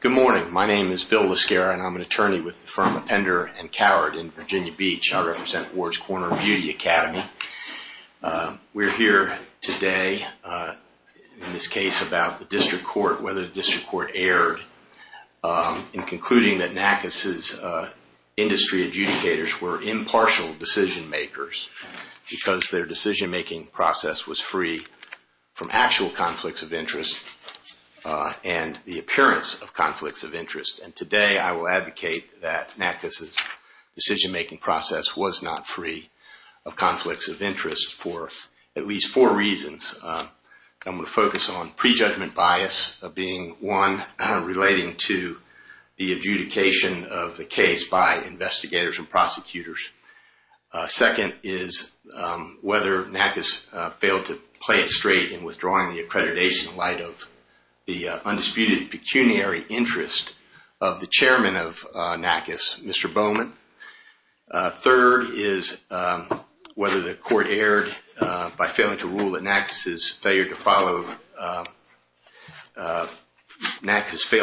Good morning, my name is Bill Lascara and I'm an attorney with the firm Appender and Coward in Virginia Beach. I represent Wards Corner Beauty Academy. We're here today in this case about the district court, whether the district court erred in concluding that the decision-making process was free from actual conflicts of interest and the appearance of conflicts of interest. And today I will advocate that Natka's decision-making process was not free of conflicts of interest for at least four reasons. I'm going to focus on prejudgment bias being one relating to the adjudication of the case by investigators and prosecutors. Second is whether Natka's failed to play it straight in withdrawing the accreditation in light of the undisputed pecuniary interest of the chairman of Natka's, Mr. Bowman. Third is whether the court erred by failing to rule that Natka's has failed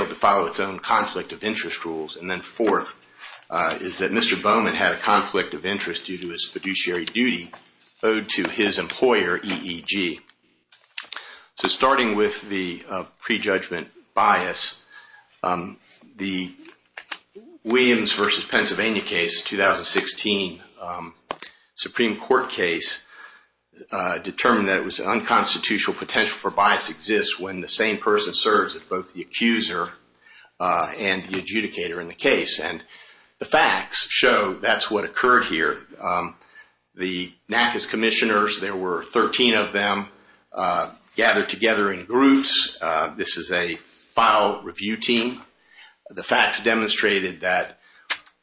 to follow its own conflict of interest rules. And then fourth is that Mr. Bowman had a conflict of interest due to his fiduciary duty owed to his employer, EEG. So starting with the prejudgment bias, the Williams v. Pennsylvania case of 2016, Supreme Court case, determined that it was an unconstitutional potential for bias exists when the same person serves as both the accuser and the adjudicator in the case. And the facts show that's what occurred here. The Natka's commissioners, there were 13 of them gathered together in groups. This is a file review team. The facts demonstrated that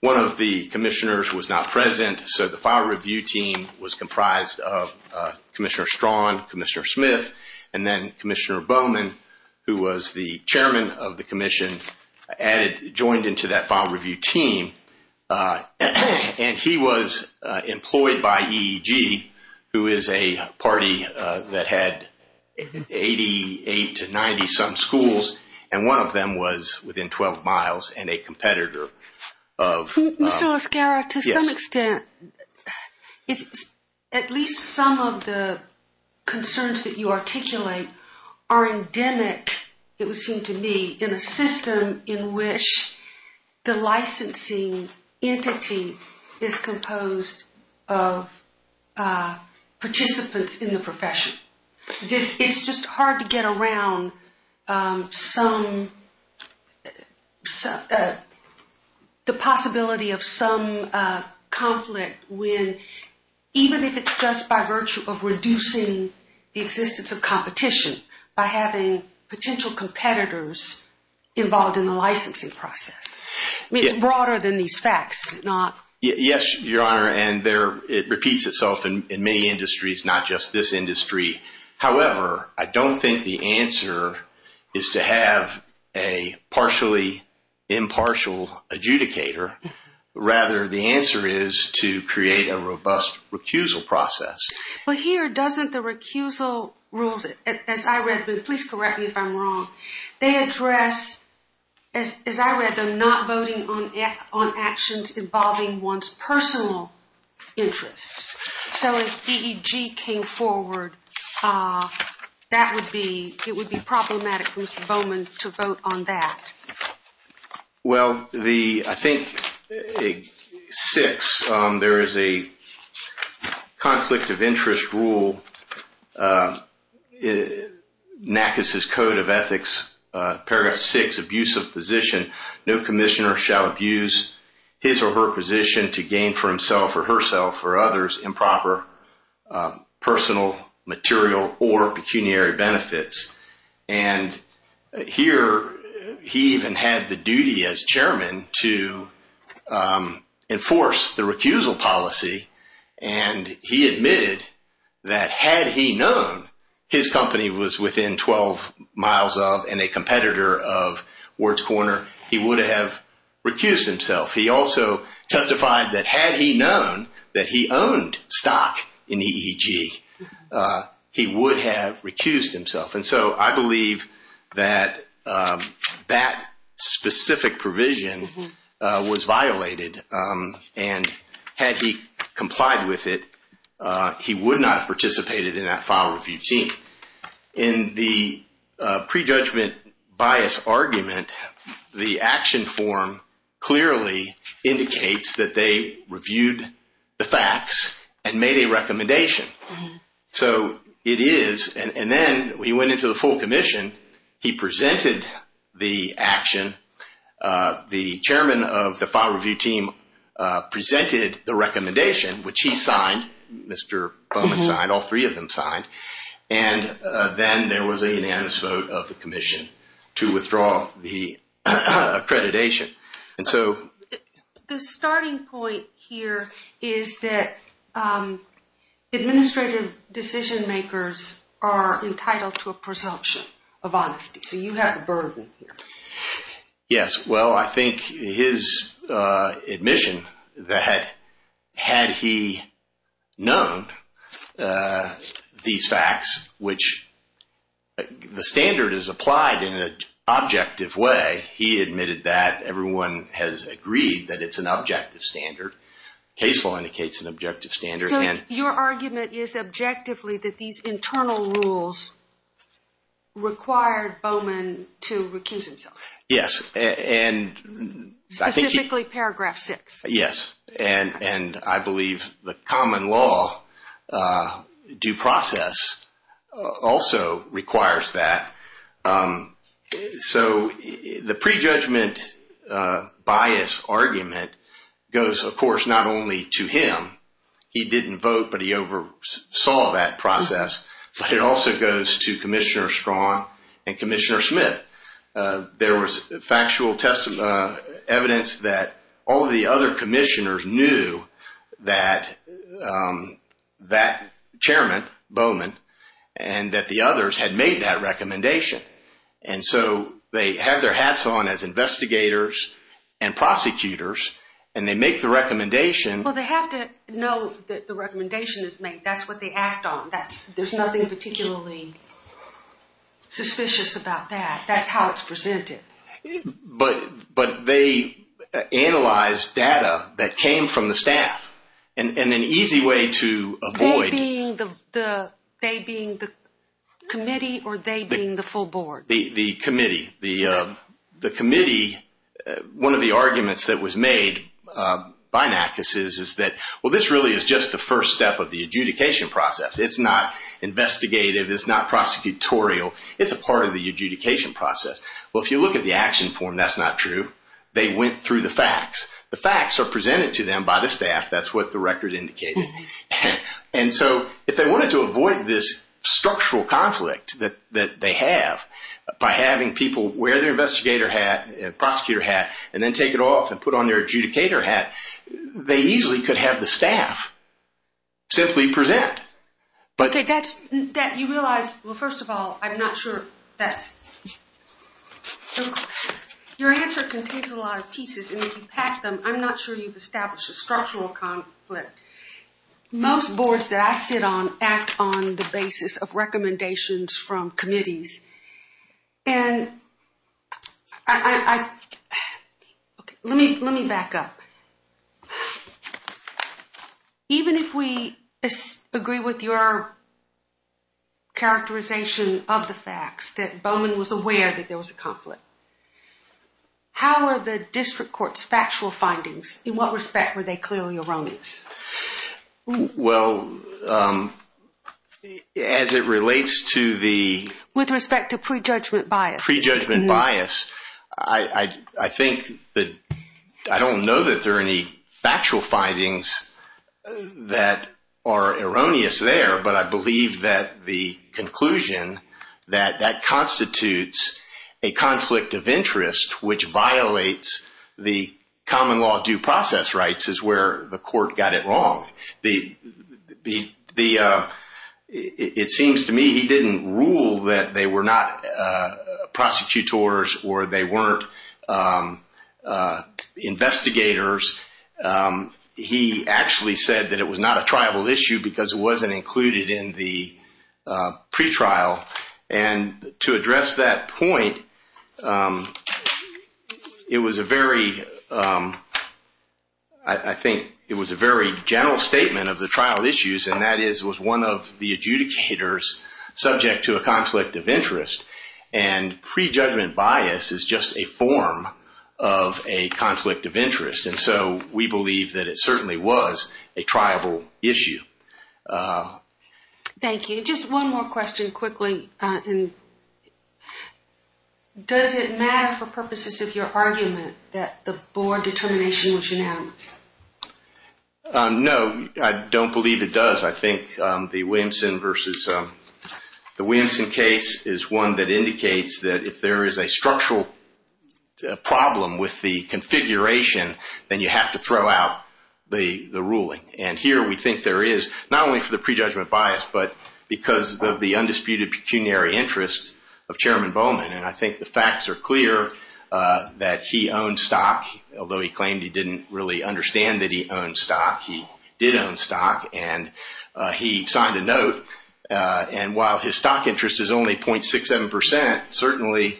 one of the commissioners was not present, so the file review team was comprised of Commissioner Strawn, Commissioner Smith, and then Commissioner Bowman, who was the chairman of the commission, joined into that file review team. And he was employed by EEG, who is a party that had 88 to 90-some schools, and one of them was within 12 miles and a competitor of... Mr. Oscara, to some extent, at least some of the concerns that you articulate are endemic, it would seem to me, in a system in which the licensing entity is composed of participants in the profession. It's just hard to get around the possibility of some conflict when, even if it's just by virtue of reducing the existence of competition, by having potential competitors involved in the licensing process. I mean, it's broader than these facts, is it not? Yes, Your Honor, and it repeats itself in many industries, not just this industry. However, I don't think the answer is to have a partially impartial adjudicator. Rather, the answer is to create a robust recusal process. But here, doesn't the recusal rules, as I read them, please correct me if I'm wrong, they address, as I read them, not voting on actions involving one's personal interests. So if EEG came forward, it would be problematic for Mr. Bowman to vote on that. Well, I think six, there is a conflict of interest rule, NACIS's Code of Ethics, paragraph six, abusive position, no commissioner shall abuse his or her position to gain for himself or herself or others improper personal, material, or pecuniary benefits. And here, he even had the duty as chairman to enforce the recusal policy. And he admitted that had he known his company was within 12 miles of and a competitor of Ward's Corner, he would have recused himself. He also testified that had he known that he owned stock in EEG, he would have recused himself. And so I believe that that specific provision was violated. And had he complied with it, he would not have participated in that file review team. In the prejudgment bias argument, the action form clearly indicates that they reviewed the facts and made a recommendation. So it is, and then we went into the full commission, he presented the action. The chairman of the file review team presented the recommendation, which he signed, Mr. Bowman signed, all three of them signed. And then there was a unanimous vote of the commission to withdraw the accreditation. And so... The starting point here is that administrative decision makers are entitled to a presumption of honesty. So you have a burden here. Yes. Well, I think his admission that had he known these facts, which the standard is applied in an objective way, he admitted that everyone has agreed that it's an objective standard. Case law indicates an objective standard. So your argument is objectively that these internal rules required Bowman to recuse himself? Yes. And... Specifically paragraph six. Yes. And I believe the common law due process also requires that. So the prejudgment bias argument goes, of course, not only to him, he didn't vote, but he oversaw that process, but it also goes to Commissioner Strong and Commissioner Smith. There was factual evidence that all of the other commissioners knew that that chairman, Bowman, and that the others had that recommendation. And so they have their hats on as investigators and prosecutors, and they make the recommendation. Well, they have to know that the recommendation is made. That's what they act on. There's nothing particularly suspicious about that. That's how it's presented. But they analyzed data that came from the staff and an easy way to avoid... They being the committee or they being the full board? The committee. The committee, one of the arguments that was made by NACUS is that, well, this really is just the first step of the adjudication process. It's not investigative. It's not prosecutorial. It's a part of the adjudication process. Well, if you look at the action form, that's not true. They went through the facts. The facts are presented to them by the staff. That's what the record indicated. And so if they wanted to avoid this structural conflict that they have by having people wear their investigator hat, prosecutor hat, and then take it off and put on their adjudicator hat, they easily could have the staff simply present. Okay. You realize... Well, first of all, I'm not sure that's... Your answer contains a lot of pieces, and if you pack them, I'm not sure you've established a structural conflict. Most boards that I sit on act on the basis of recommendations from committees. And I... Okay. Let me back up. Even if we agree with your characterization of the facts that Bowman was aware that there was a conflict, how are the district court's factual findings? In what respect were they clearly erroneous? Well, as it relates to the... With respect to prejudgment bias. Prejudgment bias. I think that... I don't know that there are any factual findings that are erroneous there, but I believe that the conclusion that that constitutes a conflict of interest which violates the common law due process rights is where the court got it wrong. It seems to me he didn't rule that they were not prosecutors or they weren't investigators. He actually said that it was not a tribal issue because it wasn't included in the point. It was a very... I think it was a very general statement of the trial issues, and that is it was one of the adjudicators subject to a conflict of interest. And prejudgment bias is just a form of a conflict of interest. And so we believe that it certainly was a tribal issue. Thank you. Just one more question quickly. Does it matter for purposes of your argument that the board determination was unanimous? No, I don't believe it does. I think the Williamson versus... The Williamson case is one that indicates that if there is a structural problem with the configuration, then you have to throw out the ruling. And here we think there is, not only for the prejudgment bias, but because of the undisputed pecuniary interest of Chairman Bowman. And I think the facts are clear that he owned stock, although he claimed he didn't really understand that he owned stock. He did own stock, and he signed a note. And while his stock interest is only 0.67%, certainly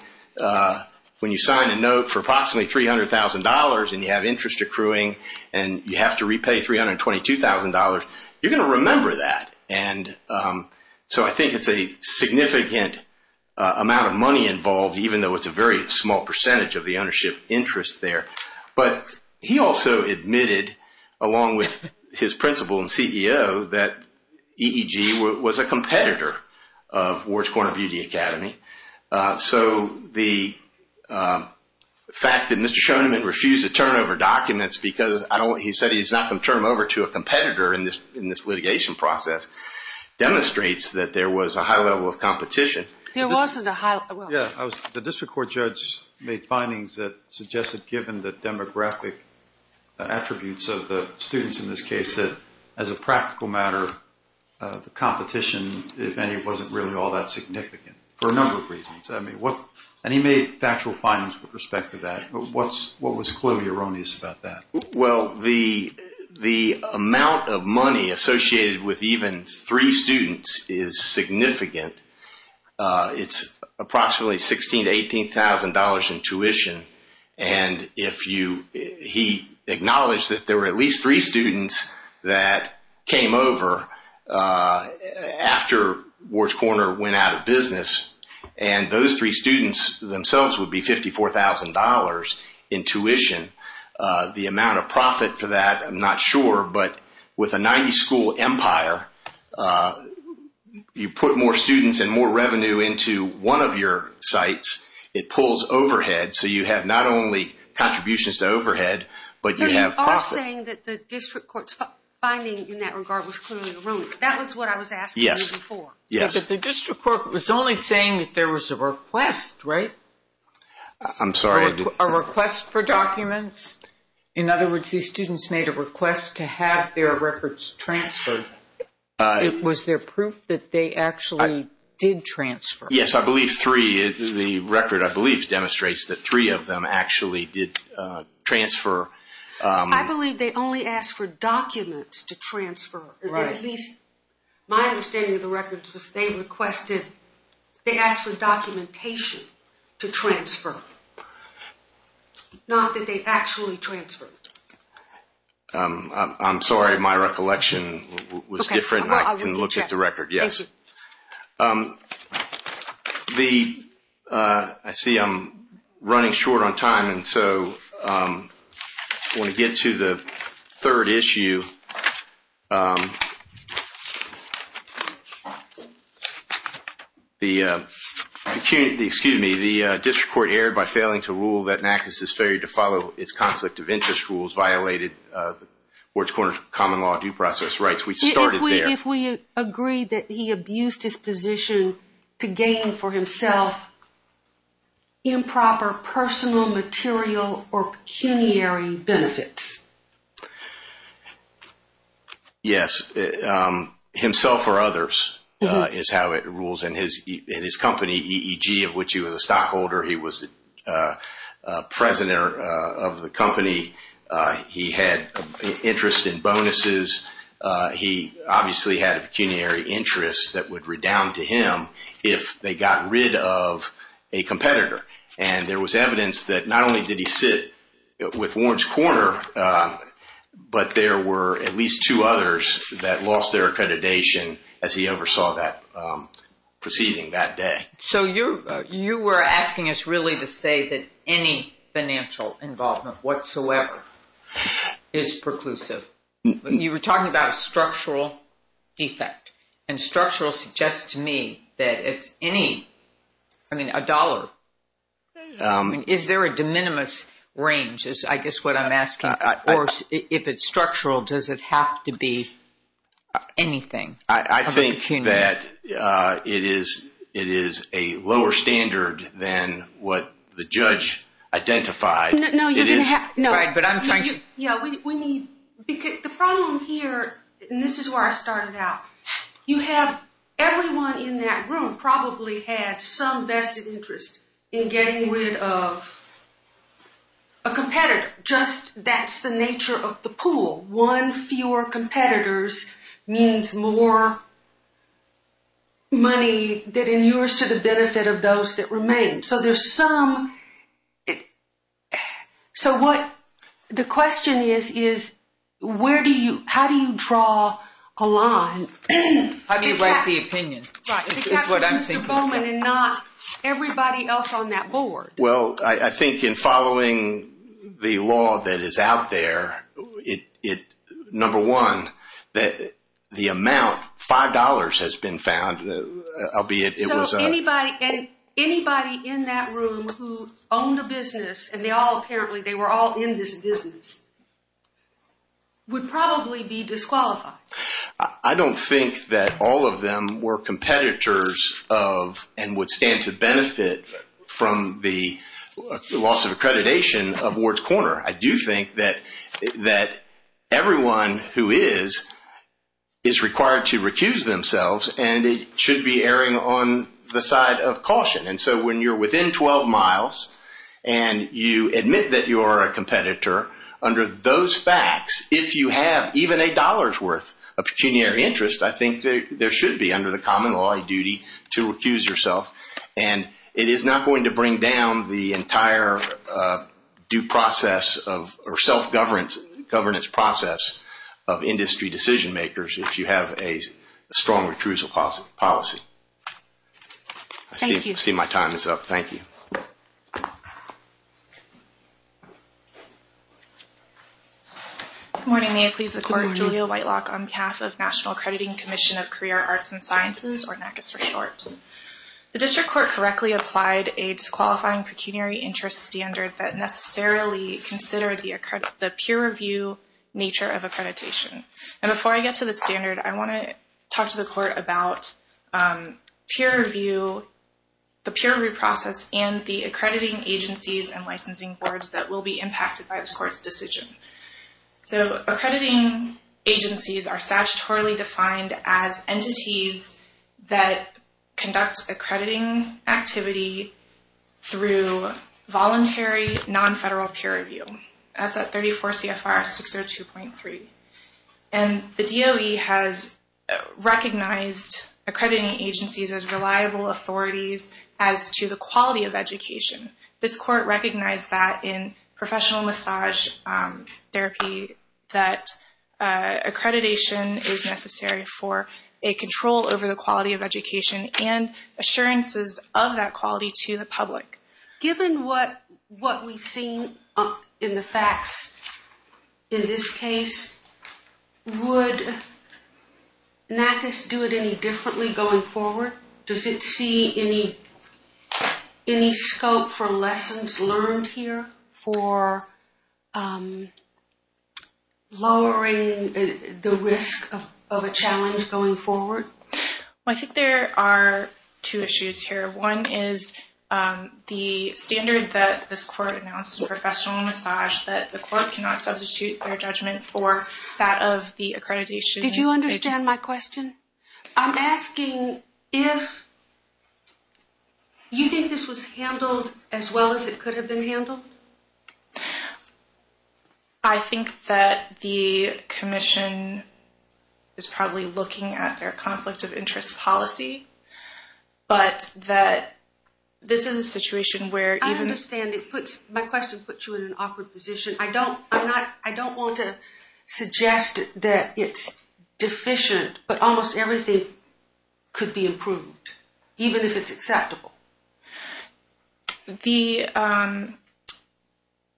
when you sign a note for approximately $300,000 and you have interest accruing and you have to repay $322,000, you're going to remember that. And so I think it's a significant amount of money involved, even though it's a very small percentage of the ownership interest there. But he also admitted, along with his principal and CEO, that EEG was a competitor of Ward's so the fact that Mr. Shoneman refused to turn over documents because he said he's not going to turn them over to a competitor in this litigation process demonstrates that there was a high level of competition. There wasn't a high... Yeah, the district court judge made findings that suggested given the demographic attributes of the students in this case that as a practical matter, the competition, if any, wasn't really all that significant for a number of reasons. And he made factual findings with respect to that, but what was clearly erroneous about that? Well, the amount of money associated with even three students is significant. It's approximately $16,000 to $18,000 in tuition. And he acknowledged that there were at least three students that came over after Ward's Corner went out of business and those three students themselves would be $54,000 in tuition. The amount of profit for that, I'm not sure, but with a 90 school empire, you put more students and more revenue into one of your sites, it pulls overhead. So you have not only contributions to overhead, but you have profit. The district court's finding in that regard was clearly erroneous. That was what I was asking you before. Yes. But the district court was only saying that there was a request, right? I'm sorry. A request for documents. In other words, these students made a request to have their records transferred. Was there proof that they actually did transfer? Yes, I believe three. The record, I believe, demonstrates that three of them actually did transfer. I believe they only asked for documents to transfer. My understanding of the records was they requested, they asked for documentation to transfer. Not that they actually transferred. I'm sorry. My recollection was different. I can look at the record. Yes. Yes. I see I'm running short on time, and so I want to get to the third issue. Excuse me. The district court erred by failing to rule that NACIS's failure to follow its conflict of interest rules violated Wards Corner's common law due process rights. We started there. If we agree that he abused his position to gain for himself improper personal, material, or pecuniary benefits. Yes. Himself or others is how it rules. In his company, EEG, of which he was a stockholder, he was the president of the company. He had interest in bonuses. He obviously had a pecuniary interest that would redound to him if they got rid of a competitor. And there was evidence that not only did he sit with Wards Corner, but there were at least two others that lost their accreditation as he oversaw that proceeding that day. So you were asking us really to say that any financial involvement whatsoever is preclusive. You were talking about a structural defect, and structural suggests to me that it's any, I mean, a dollar. Is there a de minimis range, is I guess what I'm asking? Or if it's structural, does it have to be anything? I think that it is a lower standard than what the judge identified. The problem here, and this is where I started out, you have everyone in that room probably had some vested interest in getting rid of a competitor. Just that's the nature of the pool. One fewer competitors means more money that inures to the benefit of those that remain. So what the question is, is how do you draw a line? How do you write the opinion? Right, because it's Mr. Bowman and not everybody else on that board. Well, I think in following the law that is out there, number one, the amount, $5 has been found, albeit it was... So anybody in that room who owned a business, and they all apparently, they were all in this business, would probably be disqualified. I don't think that all of them were competitors of and would stand to benefit from the loss of accreditation of Ward's Corner. I do think that everyone who is, is required to recuse themselves, and it should be erring on the side of caution. And so when you're within 12 miles and you admit that you are a competitor, under those facts, if you have even a dollar's worth of pecuniary interest, I think there should be under the common law a duty to recuse yourself. And it is not going to bring down the entire due process of, or self-governance process of industry decision makers if you have a strong recusal policy. I see my time is up. Thank you. Good morning. May it please the court. Julia Whitelock on behalf of National Accrediting Commission of Career, Arts and Sciences, or NACIS for short. The district court correctly applied a disqualifying pecuniary interest standard that necessarily considered the peer review nature of accreditation. And before I get to the standard, I want to talk to the court about peer review, the peer review process and the accrediting agencies and licensing boards that will be responsible for the court's decision. So accrediting agencies are statutorily defined as entities that conduct accrediting activity through voluntary non-federal peer review. That's at 34 CFR 602.3. And the DOE has recognized accrediting agencies as reliable authorities as to the quality of education. This court recognized that in professional massage therapy, that accreditation is necessary for a control over the quality of education and assurances of that quality to the public. Given what we've seen in the facts in this case, would NACIS do it any differently going forward? Does it see any scope for lessons learned here for lowering the risk of a challenge going forward? I think there are two issues here. One is the standard that this court announced in professional massage that the court cannot substitute their judgment for that of the accreditation. Did you understand my question? I'm asking if you think this was handled as well as it could have been handled? I think that the commission is probably looking at their conflict of interest policy, but that this is a situation where... I understand. My question puts you in an awkward position. I don't want to suggest that it's deficient, but almost everything could be improved, even if it's acceptable.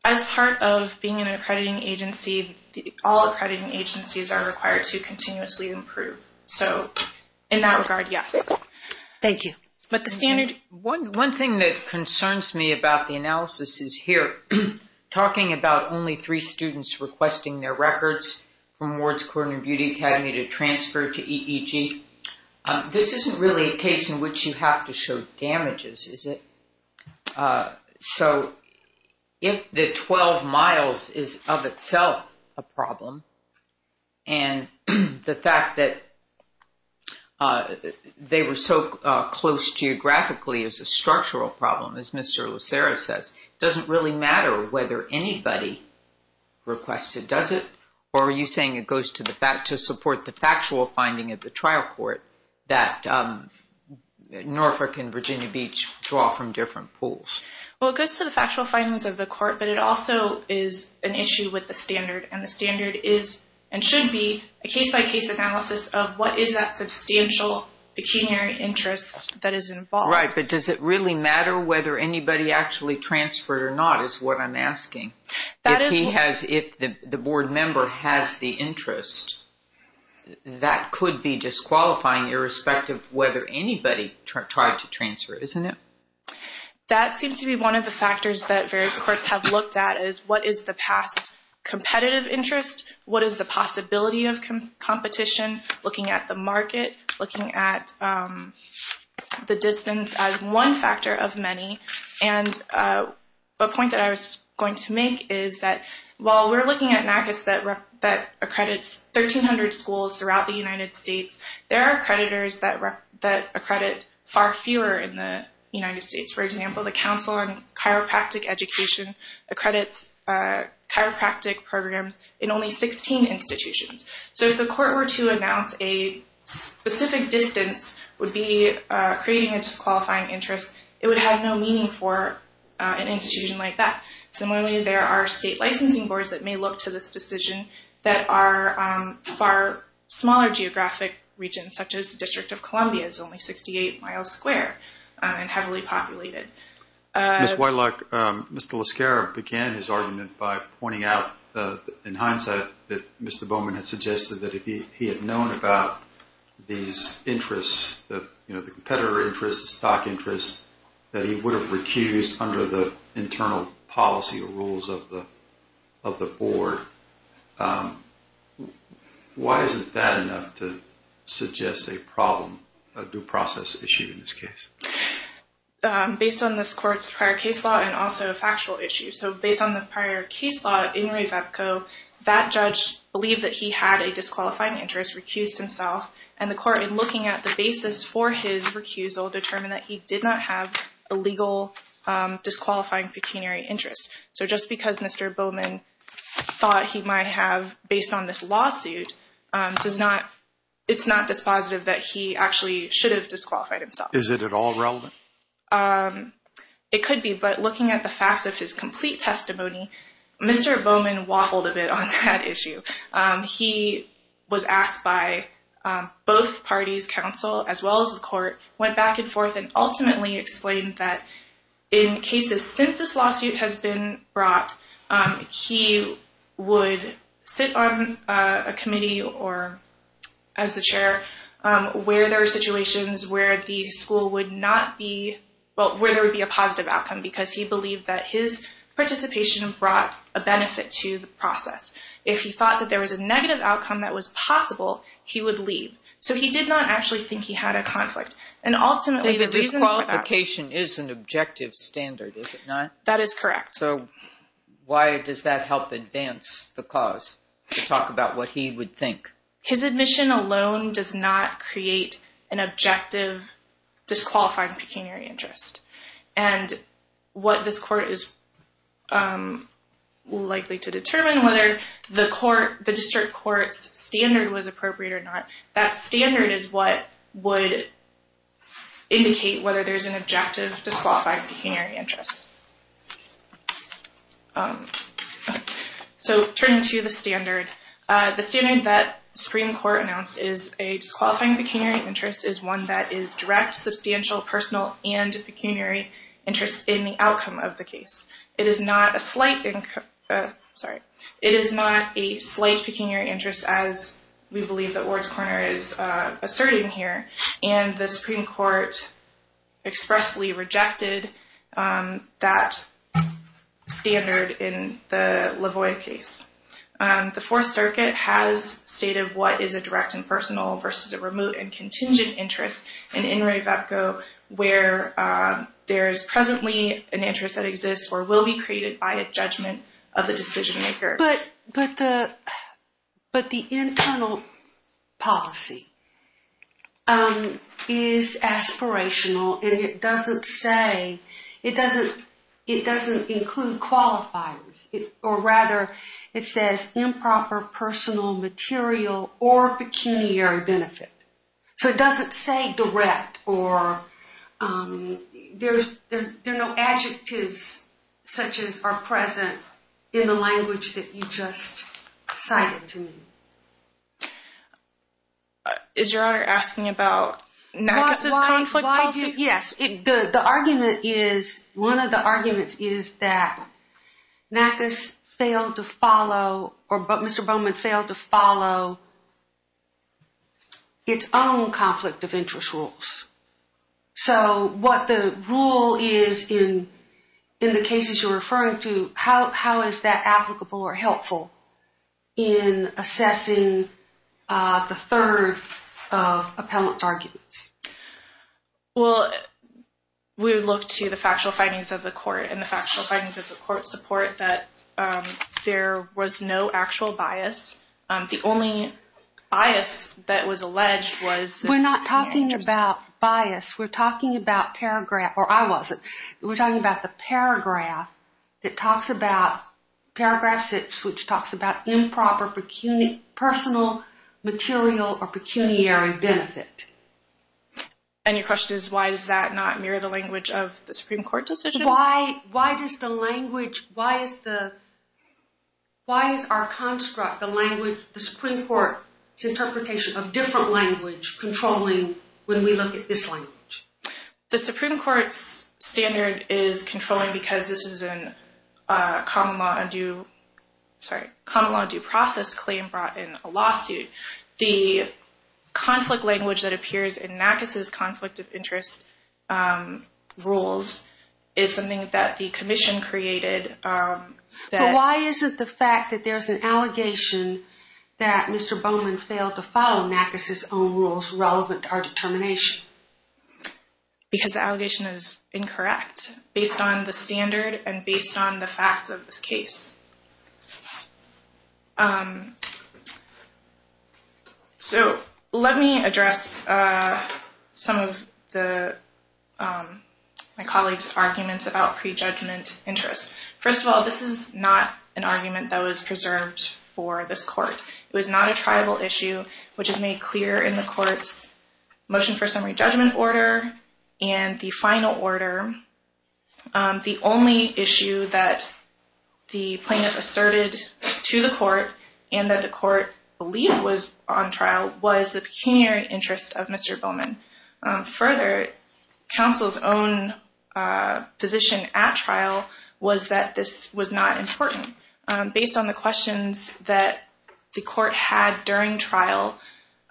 As part of being an accrediting agency, all accrediting agencies are required to continuously improve. So in that regard, yes. Thank you. But the standard... One thing that concerns me about the analysis is here, talking about only three students requesting their records from Wards Court and Beauty Academy to transfer to EEG. This isn't really a case in which you have to show damages, is it? So if the 12 miles is of itself a problem, and the fact that they were so close geographically is a structural problem, as Mr. Lucero says, doesn't really matter whether anybody requested, does it? Or are you saying it goes to support the factual finding of the trial court that Norfolk and Virginia Beach draw from different pools? Well, it goes to the factual findings of the court, but it also is an issue with the standard. And the standard is and should be a case-by-case analysis of what is that substantial pecuniary interest that is involved. But does it really matter whether anybody actually transferred or not, is what I'm asking. If the board member has the interest, that could be disqualifying irrespective of whether anybody tried to transfer, isn't it? That seems to be one of the factors that various courts have looked at, is what is the past competitive interest? What is the possibility of competition? Looking at the market, looking at the distance as one factor of many. And a point that I was going to make is that while we're looking at NACIS that accredits 1,300 schools throughout the United States, there are creditors that accredit far fewer in the United States. For example, the Council on Chiropractic Education accredits chiropractic programs in only 16 institutions. So if the court were to announce a specific distance would be creating a disqualifying interest, it would have no meaning for an institution like that. Similarly, there are state licensing boards that may look to this decision that are far smaller geographic regions, such as the District of Columbia is only 68 miles square and heavily populated. Ms. Whitelock, Mr. LaScarra began his argument by pointing out in hindsight that Mr. Bowman had suggested that if he had known about these interests, the competitor interest, the stock interest, that he would have recused under the internal policy rules of the board. Why isn't that enough to suggest a problem, a due process issue in this case? Based on this court's prior case law and also a factual issue. So based on the prior case law in Revepco, that judge believed that he had a disqualifying interest, recused himself, and the court in looking at the basis for his recusal determined that he did not have a legal disqualifying pecuniary interest. So just because Mr. Bowman thought he might have, based on this lawsuit, it's not dispositive that he actually should have disqualified himself. Is it at all relevant? It could be. But looking at the facts of his complete testimony, Mr. Bowman waffled a bit on that issue. He was asked by both parties, council as well as the court, went back and forth and ultimately explained that in cases since this lawsuit has been brought, he would sit on a committee or as the chair where there are situations where the school would not be, well, where there would be a positive outcome because he believed that his participation brought a benefit to the process. If he thought that there was a negative outcome that was possible, he would leave. So he did not actually think he had a conflict. And ultimately, the reason for that— The disqualification is an objective standard, is it not? That is correct. So why does that help advance the cause to talk about what he would think? His admission alone does not create an objective disqualified pecuniary interest. And what this court is likely to determine, whether the district court's standard was appropriate or not, that standard is what would indicate whether there's an objective disqualified pecuniary interest. So turning to the standard, the standard that the Supreme Court announced is a disqualifying pecuniary interest is one that is direct, substantial, personal, and pecuniary interest in the outcome of the case. It is not a slight— Sorry. It is not a slight pecuniary interest, as we believe that Ward's-Corner is asserting here. And the Supreme Court expressly rejected that standard in the Lavoie case. The Fourth Circuit has stated what is a direct and personal versus a remote and contingent interest in In re Vepco where there is presently an interest that exists or will be created by a judgment of the decision-maker. But the internal policy is aspirational, and it doesn't say— It doesn't include qualifiers. Or rather, it says improper, personal, material, or pecuniary benefit. So it doesn't say direct, or there are no adjectives such as are present in the language that you just cited to me. Is Your Honor asking about Nargis' conflict policy? Yes. The argument is— Nargis failed to follow, or Mr. Bowman failed to follow, its own conflict of interest rules. So what the rule is in the cases you're referring to, how is that applicable or helpful in assessing the third of appellant's arguments? Well, we would look to the factual findings of the court and the factual findings of the court support that there was no actual bias. The only bias that was alleged was— We're not talking about bias. We're talking about paragraph—or I wasn't. We're talking about the paragraph that talks about—paragraph 6, which talks about improper, personal, material, or pecuniary benefit. And your question is why does that not mirror the language of the Supreme Court decision? Why does the language—why is the— why is our construct, the language, the Supreme Court's interpretation of different language controlling when we look at this language? The Supreme Court's standard is controlling because this is a common law undue—sorry— common law due process claim brought in a lawsuit. The conflict language that appears in Nargis' conflict of interest rules is something that the commission created that— But why is it the fact that there's an allegation that Mr. Bowman failed to follow Nargis' own rules relevant to our determination? Because the allegation is incorrect based on the standard and based on the facts of this case. So, let me address some of the— my colleague's arguments about prejudgment interest. First of all, this is not an argument that was preserved for this court. It was not a tribal issue, which is made clear in the court's motion for summary judgment order The only issue that the pre-judgment interest plaintiff asserted to the court and that the court believed was on trial was the pecuniary interest of Mr. Bowman. Further, counsel's own position at trial was that this was not important. Based on the questions that the court had during trial,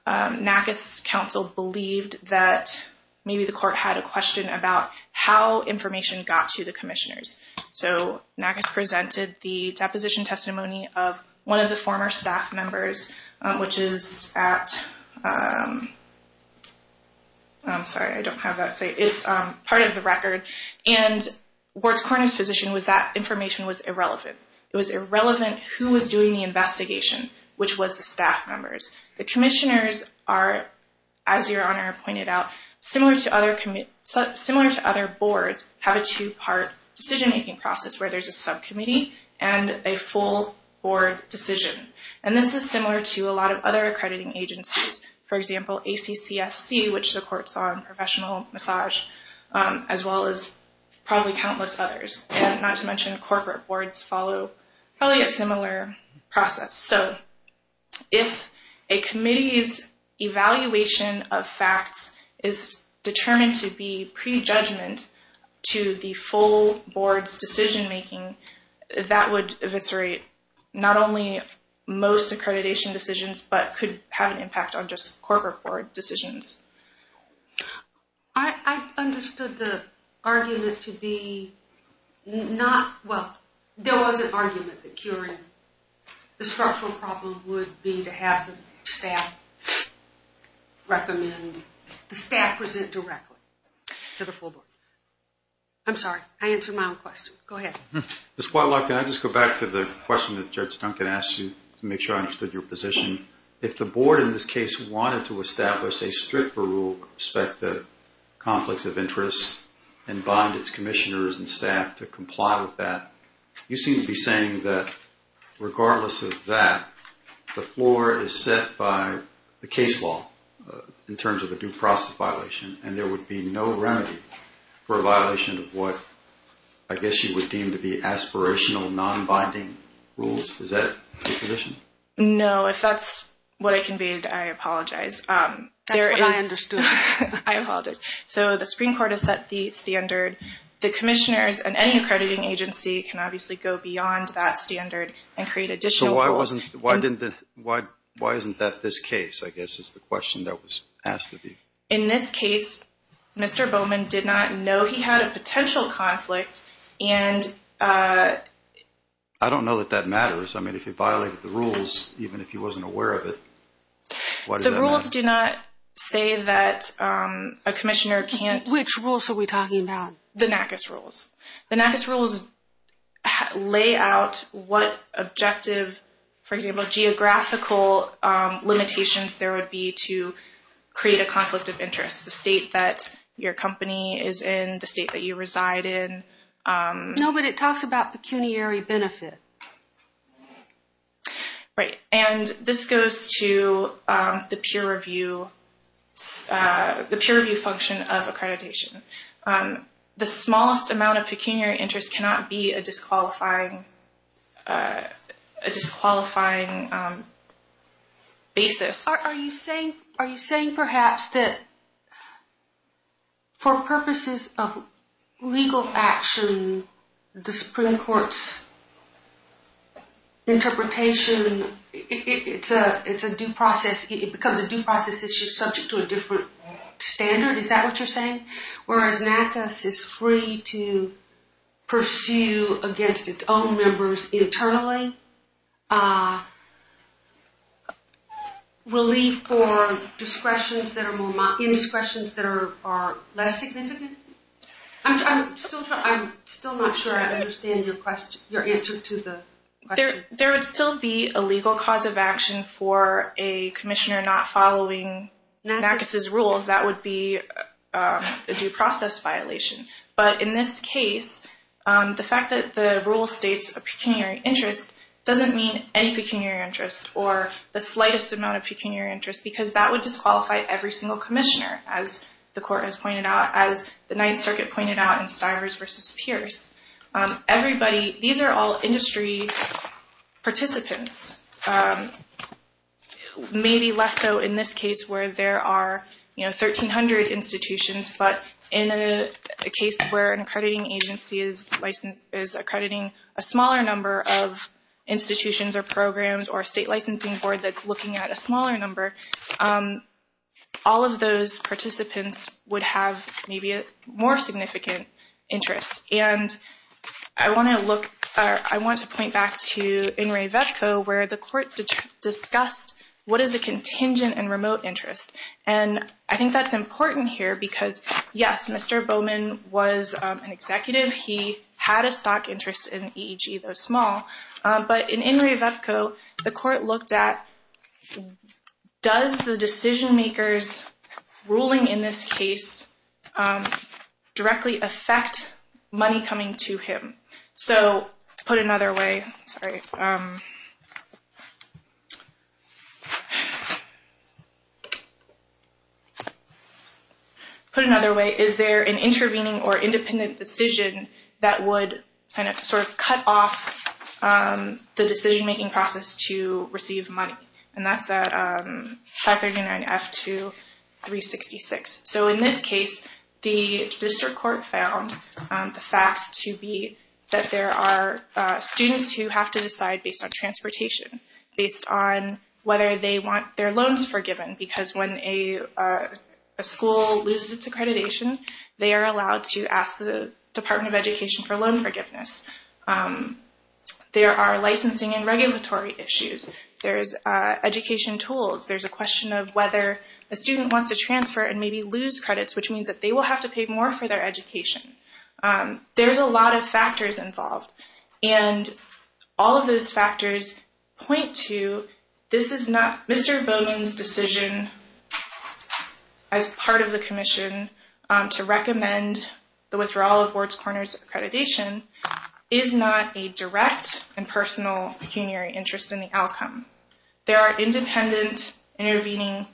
Nargis' counsel believed that maybe the court had a question about how information got to the commissioners. So, Nargis presented the deposition testimony of one of the former staff members, which is at— I'm sorry, I don't have that site. It's part of the record. And Ward's coroner's position was that information was irrelevant. It was irrelevant who was doing the investigation, which was the staff members. The commissioners are, as Your Honor pointed out, similar to other boards, have a two-part decision-making process where there's a subcommittee and a full board decision. And this is similar to a lot of other accrediting agencies. For example, ACCSC, which the court's on professional massage, as well as probably countless others. And not to mention corporate boards follow probably a similar process. So, if a committee's evaluation of facts is determined to be pre-judgment, to the full board's decision-making, that would eviscerate not only most accreditation decisions, but could have an impact on just corporate board decisions. I understood the argument to be not— Well, there was an argument that curing the structural problem would be to have the staff recommend— the staff present directly to the full board. I'm sorry, I answered my own question. Go ahead. Ms. Whitelock, can I just go back to the question that Judge Duncan asked you to make sure I understood your position? If the board, in this case, wanted to establish a stricter rule with respect to conflicts of interest and bind its commissioners and staff to comply with that, you seem to be saying that, regardless of that, the floor is set by the case law in terms of a due process violation and there would be no remedy for a violation of what, I guess, you would deem to be aspirational, non-binding rules. Is that your position? No, if that's what I conveyed, I apologize. That's what I understood. I apologize. So the Supreme Court has set the standard. The commissioners and any accrediting agency can obviously go beyond that standard and create additional rules. So why isn't that this case, I guess, is the question that was asked of you. In this case, Mr. Bowman did not know he had a potential conflict and... I don't know that that matters. I mean, if he violated the rules, even if he wasn't aware of it, why does that matter? The rules do not say that a commissioner can't... Which rules are we talking about? The NACIS rules. The NACIS rules lay out what objective, for example, geographical limitations there would be to create a conflict of interest, the state that your company is in, the state that you reside in. No, but it talks about pecuniary benefit. Right. And this goes to the peer review function of accreditation. The smallest amount of pecuniary interest cannot be a disqualifying basis. Are you saying, perhaps, that for purposes of legal action, the Supreme Court's interpretation, it's a due process. It becomes a due process if you're subject to a different standard. Is that what you're saying? Whereas NACIS is free to pursue against its own members internally, a relief for indiscretions that are less significant? I'm still not sure I understand your answer to the question. There would still be a legal cause of action for a commissioner not following NACIS rules. That would be a due process violation. But in this case, the fact that the rule states a pecuniary interest doesn't mean any pecuniary interest or the slightest amount of pecuniary interest because that would disqualify every single commissioner, as the court has pointed out, as the Ninth Circuit pointed out in Stivers v. Pierce. These are all industry participants. Maybe less so in this case where there are 1,300 institutions, but in a case where an accrediting agency is accrediting a smaller number of institutions or programs or a state licensing board that's looking at a smaller number, all of those participants would have maybe a more significant interest. I want to point back to In re Vecco where the court discussed what is a contingent and remote interest. I think that's important here because yes, Mr. Bowman was an executive. He had a stock interest in EEG, though small. But in In re Vecco, the court looked at does the decision-makers ruling in this case directly affect money coming to him? So to put it another way, sorry. To put it another way, is there an intervening or independent decision that would cut off the decision-making process to receive money? And that's at 539F2366. So in this case, the district court found the facts to be that there are students who have to decide based on transportation, based on whether they want their loans forgiven because when a school loses its accreditation, they are allowed to ask the Department of Education for loan forgiveness. There are licensing and regulatory issues. There's education tools. There's a question of whether a student wants to transfer and maybe lose credits, which means that they will have to pay more for their education. There's a lot of factors involved. And all of those factors point to Mr. Bowman's decision as part of the commission to recommend the withdrawal of Ward's Corner's accreditation is not a direct and personal pecuniary interest in the outcome. There are independent intervening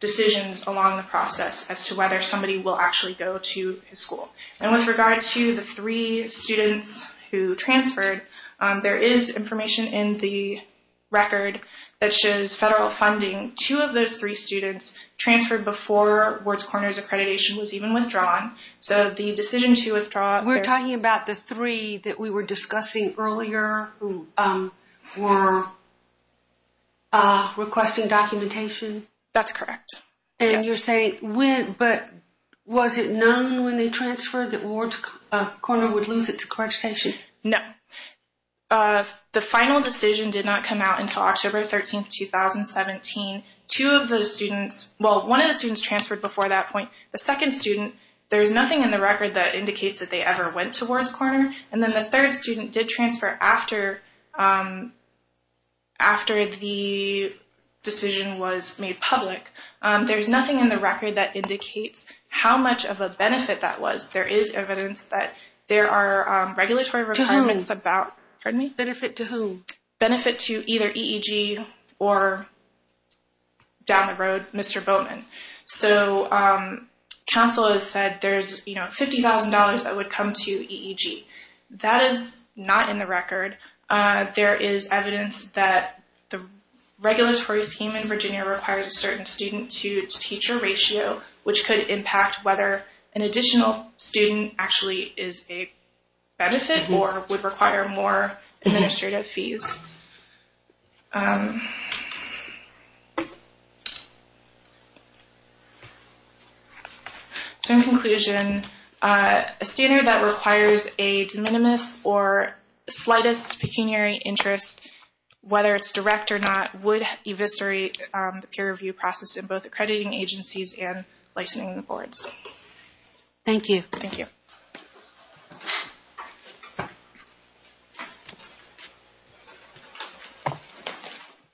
decisions along the process as to whether somebody will actually go to his school. And with regard to the three students who transferred, there is information in the record that shows federal funding. Two of those three students transferred before Ward's Corner's accreditation was even withdrawn. So the decision to withdraw- We're talking about the three that we were discussing earlier who were requesting documentation? That's correct. And you're saying when, but was it known when they transferred that Ward's Corner would lose its accreditation? No. The final decision did not come out until October 13th, 2017. Two of those students, well, one of the students transferred before that point. The second student, there's nothing in the record that indicates that they ever went to Ward's Corner. And then the third student did transfer after the decision was made public. There's nothing in the record that indicates how much of a benefit that was. There is evidence that there are regulatory requirements Benefit to whom? Benefit to either EEG or, down the road, Mr. Bowman. So counsel has said there's $50,000 that would come to EEG. That is not in the record. There is evidence that the regulatory scheme in Virginia requires a certain student-to-teacher ratio, which could impact whether an additional student actually is a benefit or would require more administrative fees. So in conclusion, a standard that requires a de minimis or slightest pecuniary interest, whether it's direct or not, would eviscerate the peer review process in both accrediting agencies and licensing boards. Thank you. Thank you.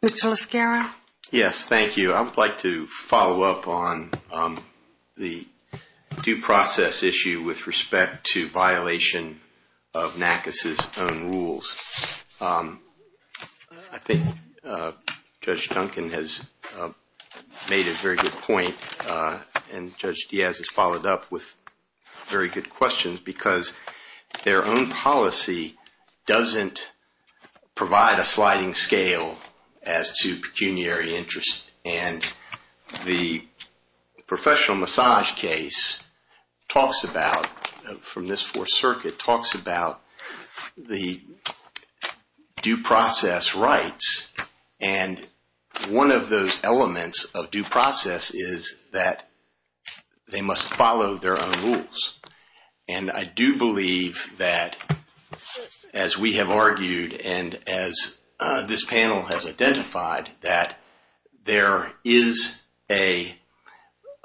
Mr. LaScarra? Yes, thank you. I would like to follow up on the due process issue with respect to violation of NACUS's own rules. I think Judge Duncan has made a very good point and Judge Diaz has followed up with very good questions because their own policy doesn't provide a sliding scale as to pecuniary interest. And the professional massage case talks about, from this Fourth Circuit, talks about the due process rights. And one of those elements of due process is that they must follow their own rules. And I do believe that, as we have argued and as this panel has identified, that there is a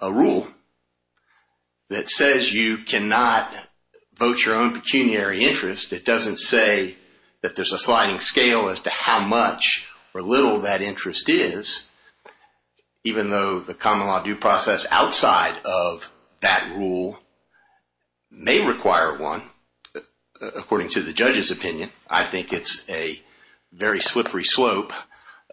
rule that says you cannot vote your own pecuniary interest. It doesn't say that there's a sliding scale as to how much or little that interest is, even though the common law due process outside of that rule may require one. According to the judge's opinion, I think it's a very slippery slope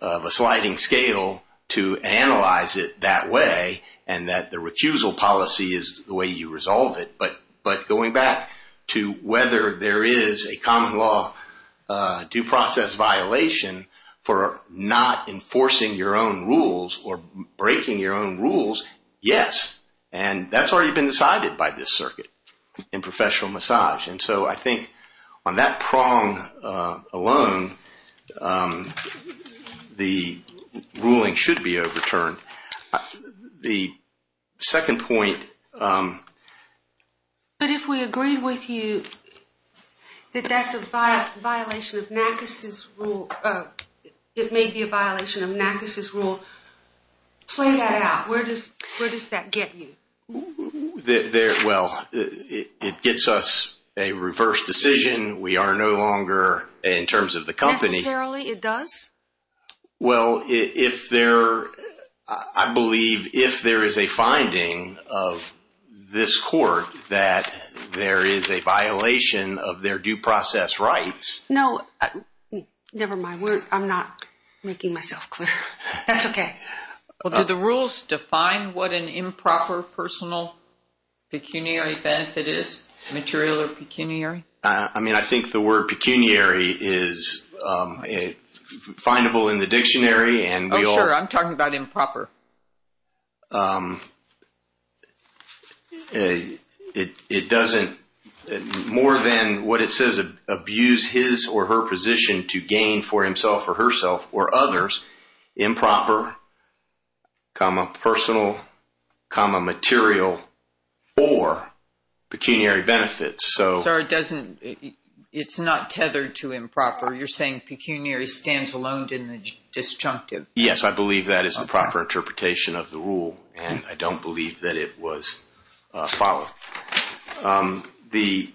of a sliding scale to analyze it that way and that the recusal policy is the way you resolve it. But going back to whether there is a common law due process violation for not enforcing your own rules or breaking your own rules, yes. And that's already been decided by this circuit in professional massage. And so I think on that prong alone, the ruling should be overturned. The second point... But if we agree with you that that's a violation of NACIS's rule, it may be a violation of NACIS's rule. Play that out. Where does that get you? Well, it gets us a reverse decision. We are no longer, in terms of the company... Necessarily, it does? Well, if there... that there is a violation of their due process rights... No, never mind. I'm not making myself clear. That's okay. Well, do the rules define what an improper personal pecuniary benefit is? Material or pecuniary? I mean, I think the word pecuniary is findable in the dictionary and... Oh, sure. I'm talking about improper. It doesn't, more than what it says, abuse his or her position to gain for himself or herself or others improper, personal, material or pecuniary benefits. So it doesn't... It's not tethered to improper. You're saying pecuniary stands alone in the disjunctive. Yes, I believe that is the proper interpretation of the rule. And I don't believe that it was followed. Um, the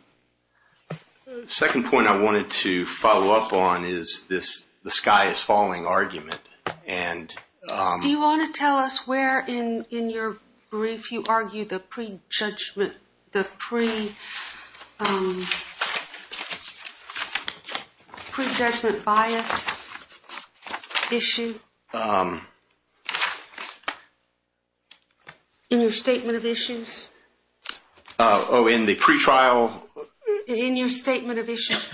second point I wanted to follow up on is this, the sky is falling argument. And, um... Do you want to tell us where in your brief you argue the pre-judgment, the pre-judgment bias issue? In your statement of issues? Oh, in the pre-trial... In your statement of issues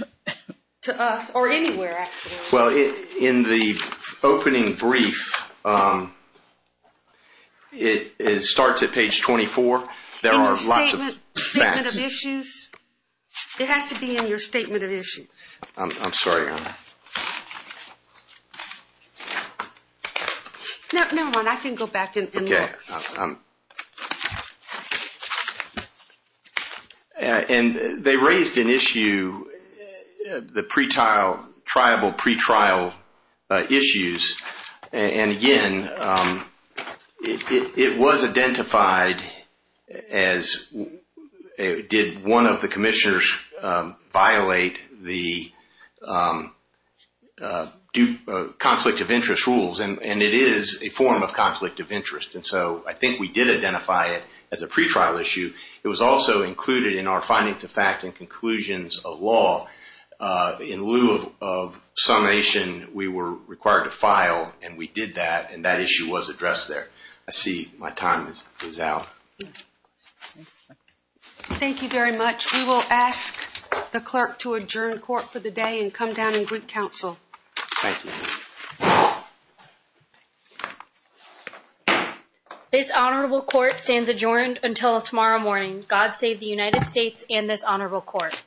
to us or anywhere, actually. Well, in the opening brief, it starts at page 24. There are lots of... It has to be in your statement of issues. I'm sorry. Never mind, I can go back and look. Okay. And they raised an issue, the pre-trial, tribal pre-trial issues. And again, it was identified as... Did one of the commissioners violate the conflict of interest rules? And it is a form of conflict of interest. And so I think we did identify it as a pre-trial issue. It was also included in our findings of fact and conclusions of law. In lieu of summation, we were required to file and we did that. And that issue was addressed there. I see my time is out. Thank you very much. We will ask the clerk to adjourn court for the day and come down and greet counsel. Thank you. Thank you. This honorable court stands adjourned until tomorrow morning. God save the United States and this honorable court.